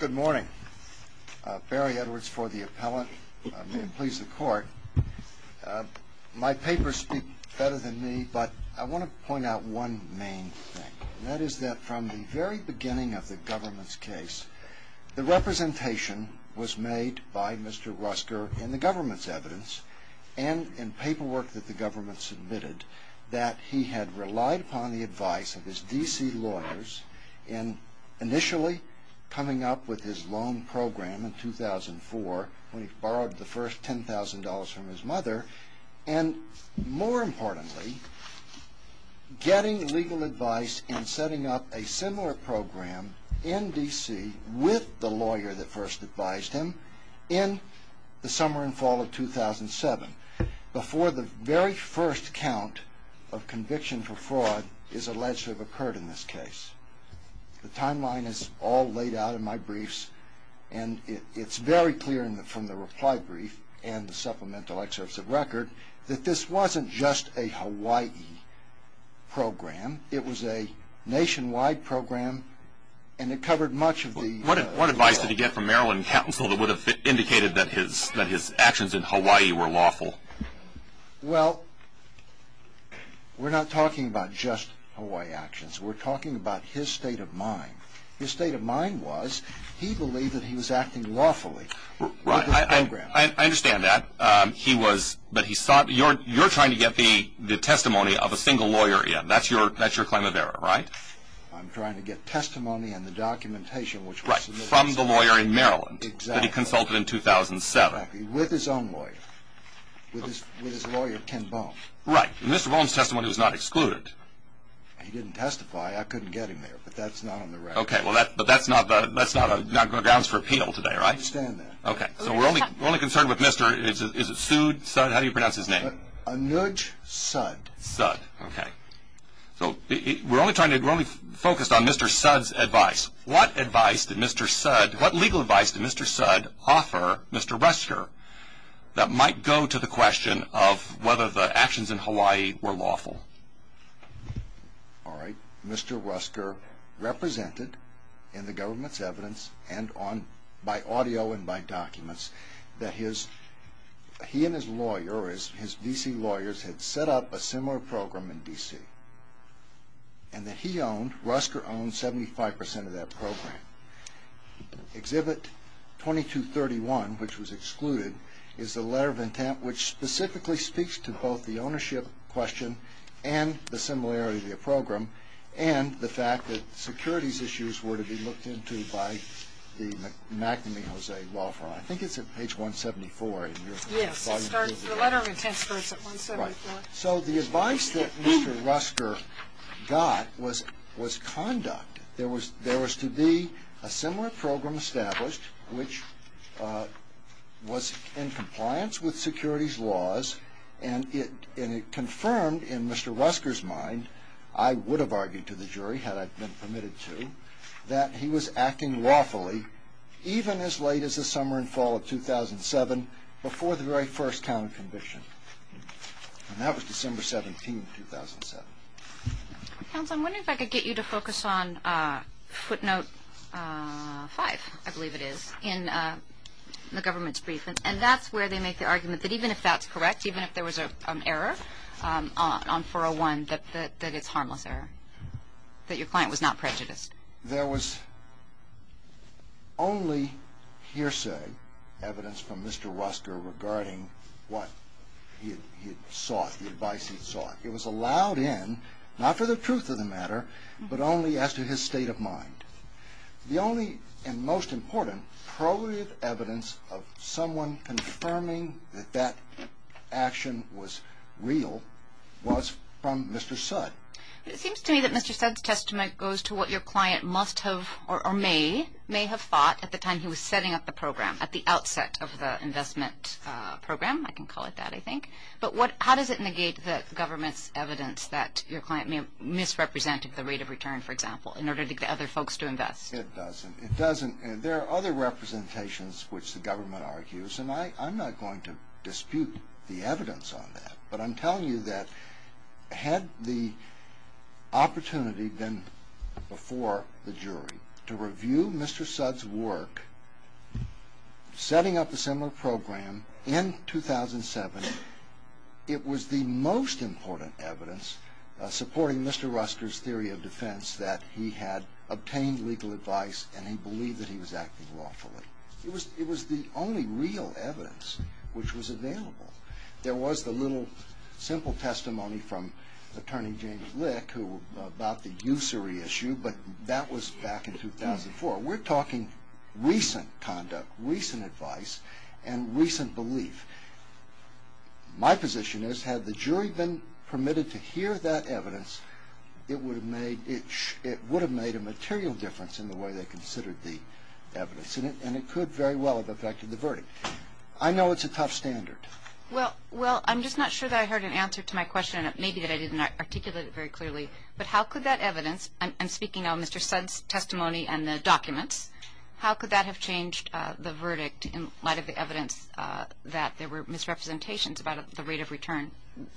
Good morning. Barry Edwards for the Appellant. May it please the Court. My papers speak better than me, but I want to point out one main thing, and that is that from the very beginning of the government's case, the representation was made by Mr. Ruskjer in the government's evidence and in paperwork that the government submitted that he had relied upon the advice of his D.C. lawyers in initially coming up with his loan program in 2004 when he borrowed the first $10,000 from his mother, and more importantly, getting legal advice and setting up a similar program in D.C. with the lawyer that first advised him in the summer and fall of 2007 before the very first count of conviction for fraud is alleged to have occurred in this case. The timeline is all laid out in my briefs, and it's very clear from the reply brief and the supplemental excerpts of record that this wasn't just a Hawaii program. It was a nationwide program, and it covered much of the... Well, we're not talking about just Hawaii actions. We're talking about his state of mind. His state of mind was he believed that he was acting lawfully with the program. I understand that, but you're trying to get the testimony of a single lawyer in. That's your claim of error, right? I'm trying to get testimony and the documentation which was... Right, from the lawyer in Maryland that he consulted in 2007. With his own lawyer, with his lawyer Ken Bone. Right, and Mr. Bone's testimony was not excluded. He didn't testify. I couldn't get him there, but that's not on the record. Okay, but that's not grounds for appeal today, right? I understand that. Okay, so we're only concerned with Mr. is it Suud? How do you pronounce his name? Anuj Suud. Suud, okay. So we're only focused on Mr. Suud's advice. What legal advice did Mr. Suud offer Mr. Rusker that might go to the question of whether the actions in Hawaii were lawful? All right, Mr. Rusker represented in the government's evidence and by audio and by documents that he and his lawyer, his D.C. lawyers had set up a similar program in D.C. and that he owned, Rusker owned 75% of that program. Exhibit 2231, which was excluded, is the letter of intent which specifically speaks to both the ownership question and the similarity of the program and the fact that securities issues were to be looked into by the magnum, Jose Woffron. I think it's at page 174. Yes, the letter of intent starts at 174. So the advice that Mr. Rusker got was conduct. There was to be a similar program established which was in compliance with securities laws and it confirmed in Mr. Rusker's mind, I would have argued to the jury had I been permitted to, that he was acting lawfully even as late as the summer and fall of 2007 before the very first count of conviction. And that was December 17, 2007. Counsel, I'm wondering if I could get you to focus on footnote 5, I believe it is, in the government's brief and that's where they make the argument that even if that's correct, even if there was an error on 401, that it's harmless error, that your client was not prejudiced. There was only hearsay evidence from Mr. Rusker regarding what he had sought, the advice he had sought. It was allowed in, not for the truth of the matter, but only as to his state of mind. The only and most important probative evidence of someone confirming that that action was real was from Mr. Sudd. It seems to me that Mr. Sudd's testament goes to what your client must have or may have thought at the time he was setting up the program, at the outset of the investment program, I can call it that, I think. But how does it negate the government's evidence that your client may have misrepresented the rate of return, for example, in order to get other folks to invest? It doesn't. There are other representations which the government argues and I'm not going to dispute the evidence on that. But I'm telling you that had the opportunity been before the jury to review Mr. Sudd's work, setting up a similar program in 2007, it was the most important evidence supporting Mr. Rusker's theory of defense that he had obtained legal advice and he believed that he was acting lawfully. It was the only real evidence which was available. There was the little, simple testimony from Attorney James Lick about the usury issue, but that was back in 2004. We're talking recent conduct, recent advice, and recent belief. My position is had the jury been permitted to hear that evidence, it would have made a material difference in the way they considered the evidence and it could very well have affected the verdict. I know it's a tough standard. Well, I'm just not sure that I heard an answer to my question and it may be that I didn't articulate it very clearly. But how could that evidence, I'm speaking on Mr. Sudd's testimony and the documents, how could that have changed the verdict in light of the evidence that there were misrepresentations about the rate of return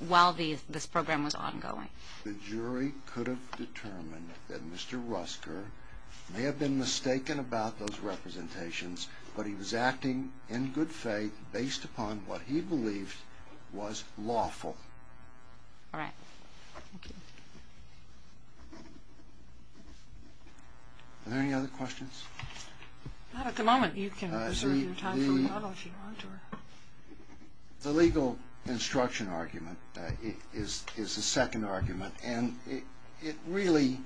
while this program was ongoing? The jury could have determined that Mr. Rusker may have been mistaken about those representations, but he was acting in good faith based upon what he believed was lawful. All right. Thank you. Are there any other questions? Not at the moment. You can reserve your time for the model if you want to. The legal instruction argument is the second argument and it really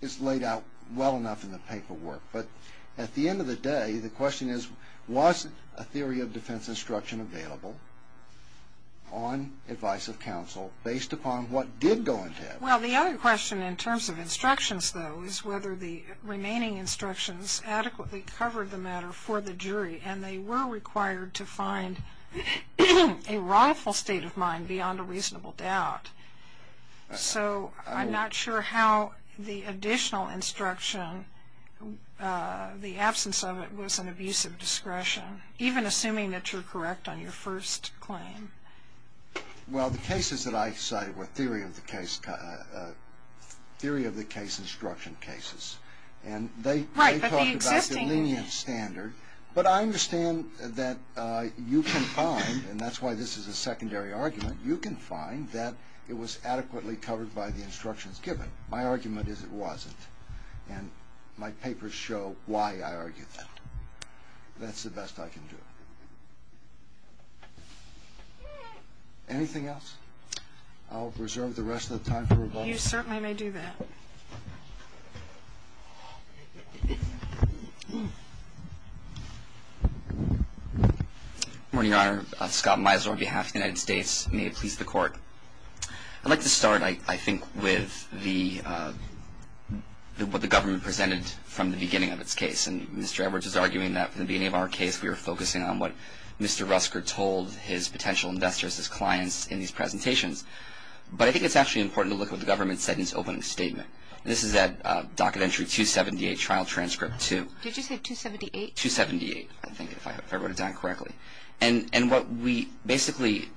is laid out well enough in the paperwork. But at the end of the day, the question is, was a theory of defense instruction available on advice of counsel based upon what did go into it? Well, the other question in terms of instructions, though, is whether the remaining instructions adequately covered the matter for the jury and they were required to find a wrongful state of mind beyond a reasonable doubt. So I'm not sure how the additional instruction, the absence of it, was an abuse of discretion, even assuming that you're correct on your first claim. Well, the cases that I cited were theory of the case instruction cases. And they talked about the lenient standard. But I understand that you can find, and that's why this is a secondary argument, you can find that it was adequately covered by the instructions given. My argument is it wasn't. And my papers show why I argue that. That's the best I can do. Anything else? I'll reserve the rest of the time for rebuttal. You certainly may do that. Good morning, Your Honor. Scott Mizner on behalf of the United States. May it please the Court. I'd like to start, I think, with what the government presented from the beginning of its case. And Mr. Edwards is arguing that from the beginning of our case we were focusing on what Mr. Rusker told his potential investors, his clients, in these presentations. But I think it's actually important to look at what the government said in its opening statement. This is at Docket Entry 278, Trial Transcript 2. Did you say 278? 278, I think, if I wrote it down correctly. And what we basically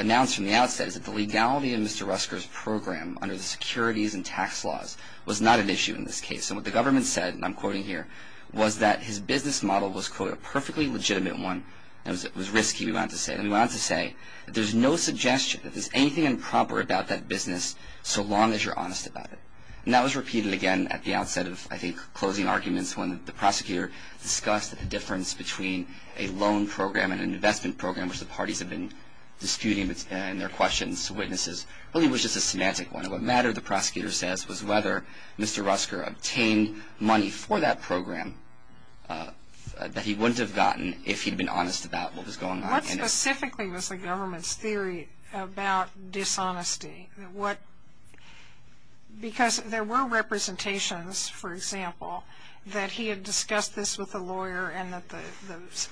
announced from the outset is that the legality in Mr. Rusker's program under the securities and tax laws was not an issue in this case. And what the government said, and I'm quoting here, was that his business model was, quote, a perfectly legitimate one. It was risky, we want to say. There's no suggestion that there's anything improper about that business so long as you're honest about it. And that was repeated again at the outset of, I think, closing arguments when the prosecutor discussed the difference between a loan program and an investment program, which the parties have been disputing in their questions to witnesses. It really was just a semantic one. What mattered, the prosecutor says, was whether Mr. Rusker obtained money for that program that he wouldn't have gotten if he'd been honest about what was going on. What specifically was the government's theory about dishonesty? Because there were representations, for example, that he had discussed this with a lawyer and that the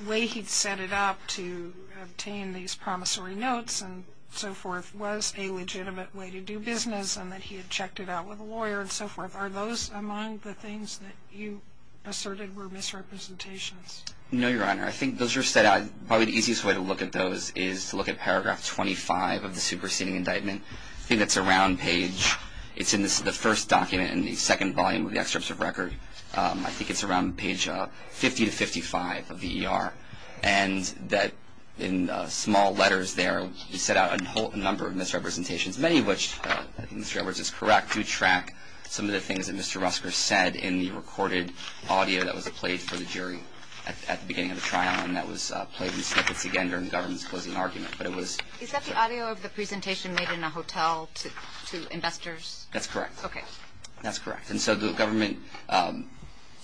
way he'd set it up to obtain these promissory notes and so forth was a legitimate way to do business and that he had checked it out with a lawyer and so forth. Are those among the things that you asserted were misrepresentations? No, Your Honor. I think those were set out, probably the easiest way to look at those is to look at paragraph 25 of the superseding indictment. I think that's around page, it's in the first document in the second volume of the excerpts of record. I think it's around page 50 to 55 of the ER. And that in small letters there, he set out a number of misrepresentations, many of which I think Mr. Edwards is correct to track some of the things that Mr. at the beginning of the trial and that was played in snippets again during the government's closing argument. Is that the audio of the presentation made in a hotel to investors? That's correct. Okay. That's correct. And so the government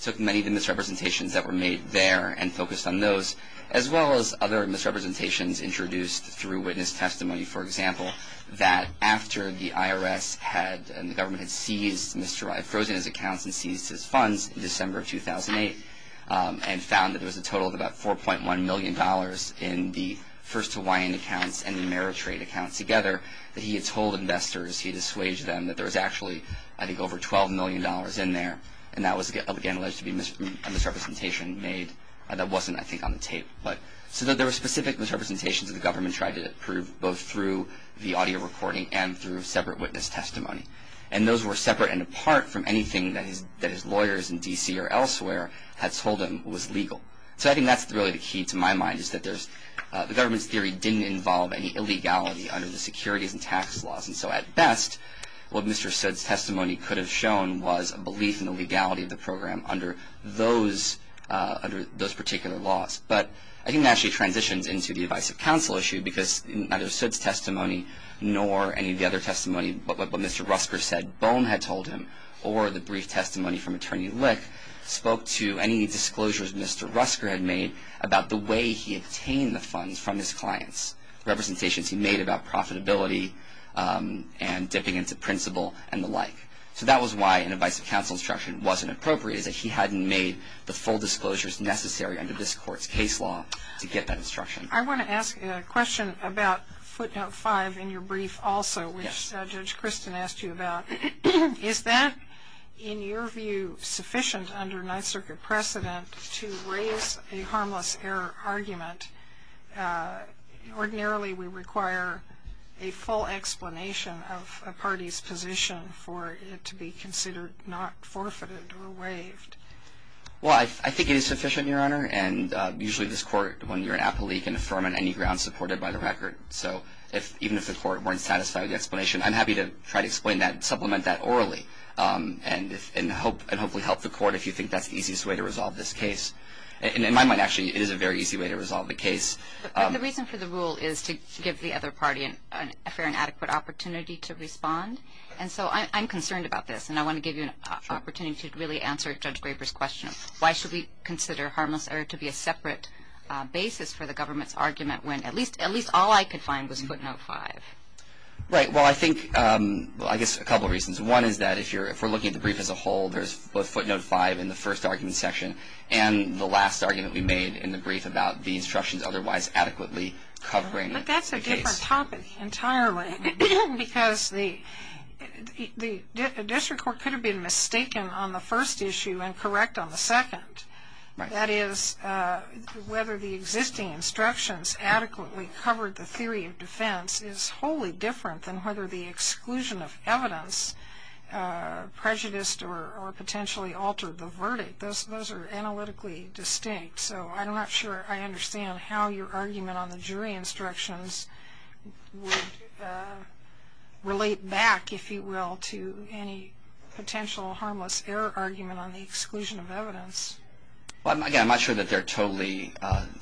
took many of the misrepresentations that were made there and focused on those, as well as other misrepresentations introduced through witness testimony, for example, that after the IRS had and the government had seized Mr. Wright, frozen his accounts and seized his funds in December of 2008, and found that there was a total of about $4.1 million in the first Hawaiian accounts and the Ameritrade accounts together, that he had told investors, he had assuaged them, that there was actually, I think, over $12 million in there. And that was, again, alleged to be a misrepresentation made that wasn't, I think, on the tape. So there were specific misrepresentations that the government tried to prove, both through the audio recording and through separate witness testimony. And those were separate and apart from anything that his lawyers in D.C. or elsewhere had told him was legal. So I think that's really the key to my mind, is that the government's theory didn't involve any illegality under the securities and tax laws. And so at best, what Mr. Sood's testimony could have shown was a belief in the legality of the program under those particular laws. But I think it actually transitions into the advice of counsel issue, because neither Sood's testimony nor any of the other testimony, but what Mr. Rusker said Bohm had told him, or the brief testimony from Attorney Lick, spoke to any disclosures Mr. Rusker had made about the way he obtained the funds from his clients, representations he made about profitability and dipping into principle and the like. So that was why an advice of counsel instruction wasn't appropriate, is that he hadn't made the full disclosures necessary under this Court's case law to get that instruction. I want to ask a question about footnote 5 in your brief also, which Judge Christin asked you about. Is that, in your view, sufficient under Ninth Circuit precedent to raise a harmless error argument? Ordinarily, we require a full explanation of a party's position for it to be considered not forfeited or waived. Well, I think it is sufficient, Your Honor. And usually this Court, when you're an appellee, can affirm on any grounds supported by the record. So even if the Court weren't satisfied with the explanation, I'm happy to try to explain that and supplement that orally and hopefully help the Court if you think that's the easiest way to resolve this case. In my mind, actually, it is a very easy way to resolve the case. But the reason for the rule is to give the other party a fair and adequate opportunity to respond. And so I'm concerned about this, and I want to give you an opportunity to really answer Judge Graper's question. Why should we consider harmless error to be a separate basis for the government's argument when at least all I could find was footnote 5? Right. Well, I think – well, I guess a couple of reasons. One is that if you're – if we're looking at the brief as a whole, there's both footnote 5 in the first argument section and the last argument we made in the brief about the instructions otherwise adequately covering the case. But that's a different topic entirely because the district court could have been mistaken on the first issue and correct on the second. That is, whether the existing instructions adequately covered the theory of defense is wholly different than whether the exclusion of evidence prejudiced or potentially altered the verdict. Those are analytically distinct. So I'm not sure I understand how your argument on the jury instructions would relate back, if you will, to any potential harmless error argument on the exclusion of evidence. Well, again, I'm not sure that they're totally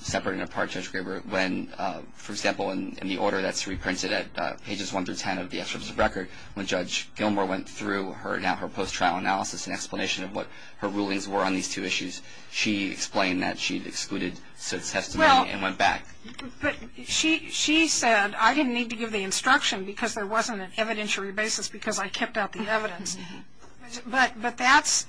separate and apart, Judge Graper, when, for example, in the order that's reprinted at pages 1 through 10 of the excerpt of the record, when Judge Gilmore went through her post-trial analysis and explanation of what her rulings were on these two issues, she explained that she'd excluded such testimony and went back. Well, but she said, I didn't need to give the instruction because there wasn't an evidentiary basis because I kept out the evidence. But that's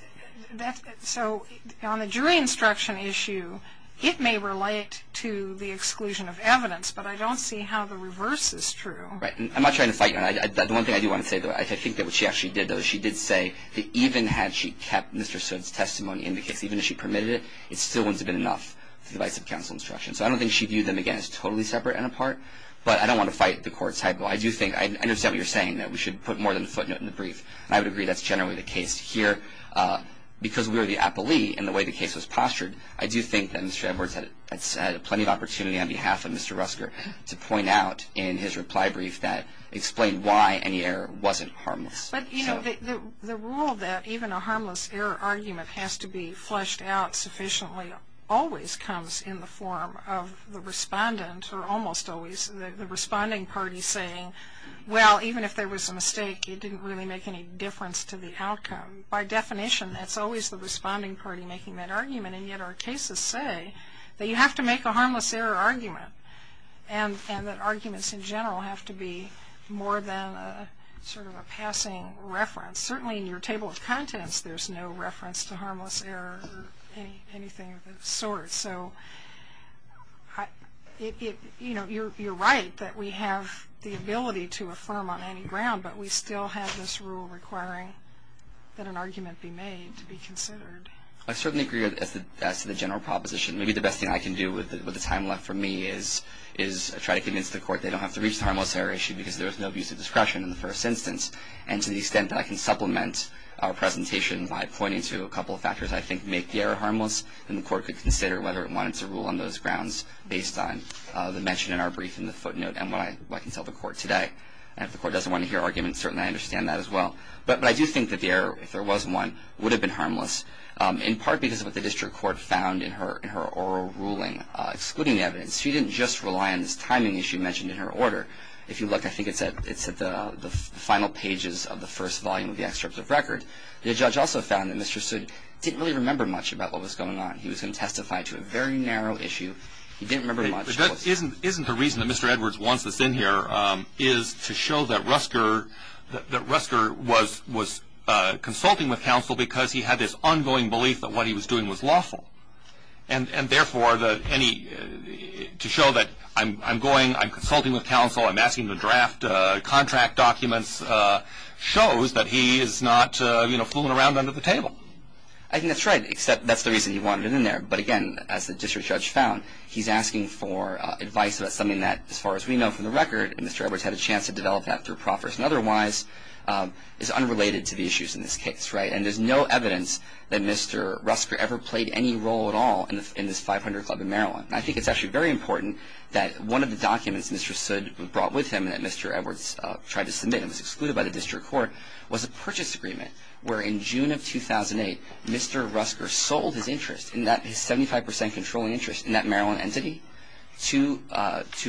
– so on the jury instruction issue, it may relate to the exclusion of evidence, but I don't see how the reverse is true. Right. I'm not trying to fight you on that. The one thing I do want to say, though, I think that what she actually did, though, is she did say that even had she kept Mr. Soot's testimony in the case, even if she permitted it, it still wouldn't have been enough for the vice counsel instruction. So I don't think she viewed them, again, as totally separate and apart, but I don't want to fight the court's hypo. I do think – I understand what you're saying, that we should put more than a footnote in the brief. I would agree that's generally the case here. Because we are the appellee in the way the case was postured, I do think that Mr. Edwards had plenty of opportunity on behalf of Mr. Rusker to point out in his reply brief that – explain why any error wasn't harmless. But, you know, the rule that even a harmless error argument has to be flushed out sufficiently always comes in the form of the respondent or almost always the responding party saying, well, even if there was a mistake, it didn't really make any difference to the outcome. By definition, that's always the responding party making that argument, and yet our cases say that you have to make a harmless error argument and that arguments in general have to be more than sort of a passing reference. Certainly in your table of contents, there's no reference to harmless error or anything of the sort. So, you know, you're right that we have the ability to affirm on any ground, but we still have this rule requiring that an argument be made to be considered. I certainly agree as to the general proposition. Maybe the best thing I can do with the time left for me is try to convince the court they don't have to reach the harmless error issue because there was no abuse of discretion in the first instance. And to the extent that I can supplement our presentation by pointing to a couple of factors that I think make the error harmless, then the court could consider whether it wanted to rule on those grounds based on the mention in our brief in the footnote and what I can tell the court today. And if the court doesn't want to hear arguments, certainly I understand that as well. But I do think that the error, if there was one, would have been harmless, in part because of what the district court found in her oral ruling, excluding the evidence. She didn't just rely on this timing issue mentioned in her order. If you look, I think it's at the final pages of the first volume of the excerpt of record. The judge also found that Mr. Sood didn't really remember much about what was going on. He was going to testify to a very narrow issue. He didn't remember much. Isn't the reason that Mr. Edwards wants us in here is to show that Rusker was consulting with counsel because he had this ongoing belief that what he was doing was lawful? And therefore, to show that I'm going, I'm consulting with counsel, I'm asking to draft contract documents, shows that he is not fooling around under the table. I think that's right, except that's the reason he wanted him in there. But again, as the district judge found, he's asking for advice about something that, as far as we know from the record, Mr. Edwards had a chance to develop that through proffers and otherwise is unrelated to the issues in this case. And there's no evidence that Mr. Rusker ever played any role at all in this 500 Club in Maryland. I think it's actually very important that one of the documents Mr. Sood brought with him and that Mr. Edwards tried to submit and was excluded by the district court was a purchase agreement where in June of 2008, Mr. Rusker sold his interest in that 75 percent controlling interest in that Maryland entity to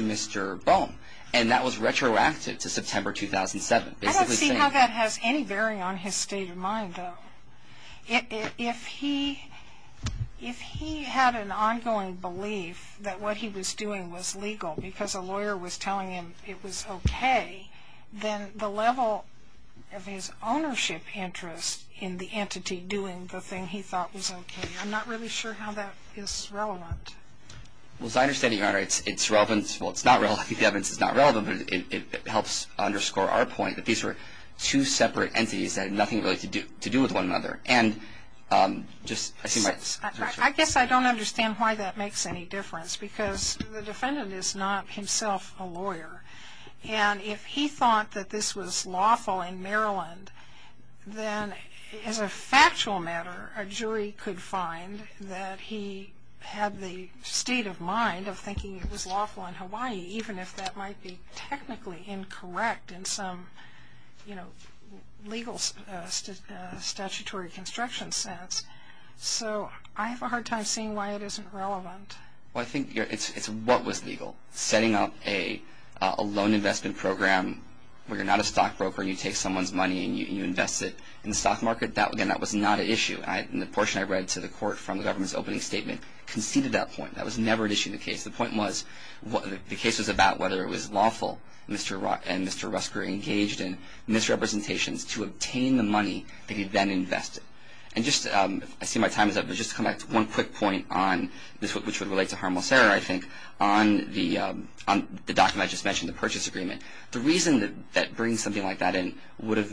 Mr. Bone. And that was retroactive to September 2007. I don't see how that has any bearing on his state of mind, though. If he had an ongoing belief that what he was doing was legal because a lawyer was telling him it was okay, then the level of his ownership interest in the entity doing the thing he thought was okay, I'm not really sure how that is relevant. Well, as I understand it, Your Honor, it's relevant. Well, it's not relevant. The evidence is not relevant, but it helps underscore our point that these were two separate entities that had nothing really to do with one another. I guess I don't understand why that makes any difference because the defendant is not himself a lawyer. And if he thought that this was lawful in Maryland, then as a factual matter, a jury could find that he had the state of mind of thinking it was lawful in Hawaii, even if that might be technically incorrect in some legal statutory construction sense. So I have a hard time seeing why it isn't relevant. Well, I think it's what was legal. Setting up a loan investment program where you're not a stockbroker and you take someone's money and you invest it in the stock market, again, that was not an issue. And the portion I read to the Court from the government's opening statement conceded that point. That was never an issue in the case. The point was the case was about whether it was lawful and Mr. Rusker engaged in misrepresentations to obtain the money that he then invested. And I see my time is up, but just to come back to one quick point on this, which would relate to harmless error, I think, on the document I just mentioned, the purchase agreement. The reason that bringing something like that in would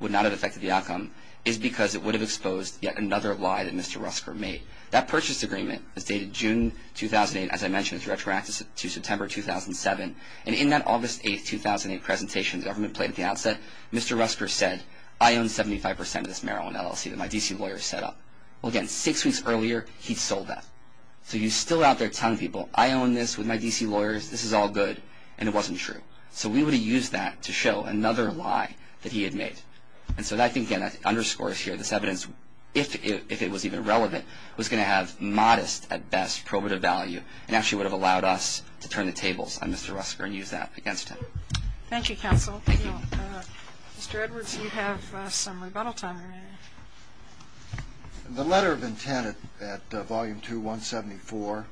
not have affected the outcome is because it would have exposed yet another lie that Mr. Rusker made. That purchase agreement is dated June 2008. As I mentioned, it's retroactive to September 2007. And in that August 8, 2008 presentation the government played at the outset, Mr. Rusker said, I own 75% of this marijuana LLC that my D.C. lawyer set up. Well, again, six weeks earlier, he'd sold that. So you're still out there telling people, I own this with my D.C. lawyers, this is all good, and it wasn't true. So we would have used that to show another lie that he had made. And so I think, again, that underscores here this evidence, if it was even relevant, was going to have modest, at best, probative value and actually would have allowed us to turn the tables on Mr. Rusker and use that against him. Thank you, counsel. Mr. Edwards, you have some rebuttal time remaining. The letter of intent at Volume 2, 174,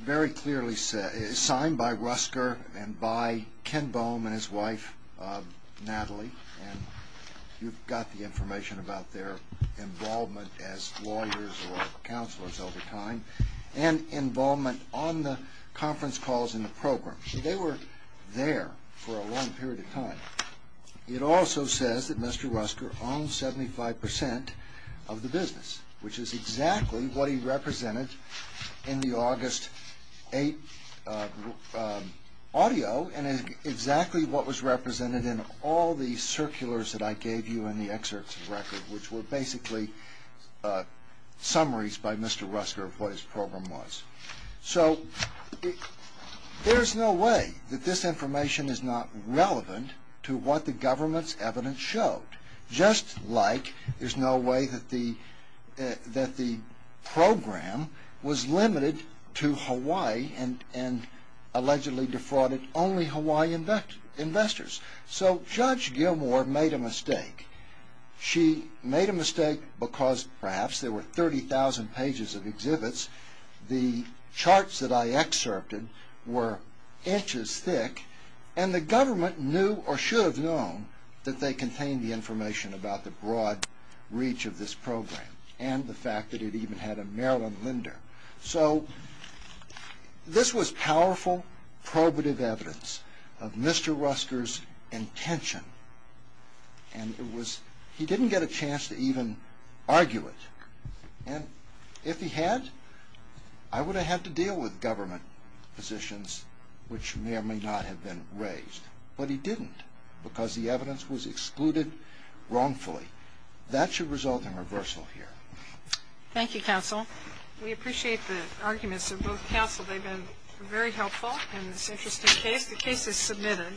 very clearly said, is signed by Rusker and by Ken Boehm and his wife, Natalie. And you've got the information about their involvement as lawyers or counselors over time and involvement on the conference calls in the program. So they were there for a long period of time. It also says that Mr. Rusker owned 75% of the business, which is exactly what he represented in the August 8th audio and exactly what was represented in all the circulars that I gave you in the excerpts of the record, which were basically summaries by Mr. Rusker of what his program was. So there's no way that this information is not relevant to what the government's evidence showed, just like there's no way that the program was limited to Hawaii and allegedly defrauded only Hawaiian investors. So Judge Gilmour made a mistake. She made a mistake because, perhaps, there were 30,000 pages of exhibits. The charts that I excerpted were inches thick, and the government knew or should have known that they contained the information about the broad reach of this program and the fact that it even had a Maryland lender. So this was powerful probative evidence of Mr. Rusker's intention, and he didn't get a chance to even argue it. And if he had, I would have had to deal with government positions, which may or may not have been raised. But he didn't because the evidence was excluded wrongfully. That should result in reversal here. Thank you, counsel. We appreciate the arguments of both counsel. They've been very helpful in this interesting case. The case is submitted.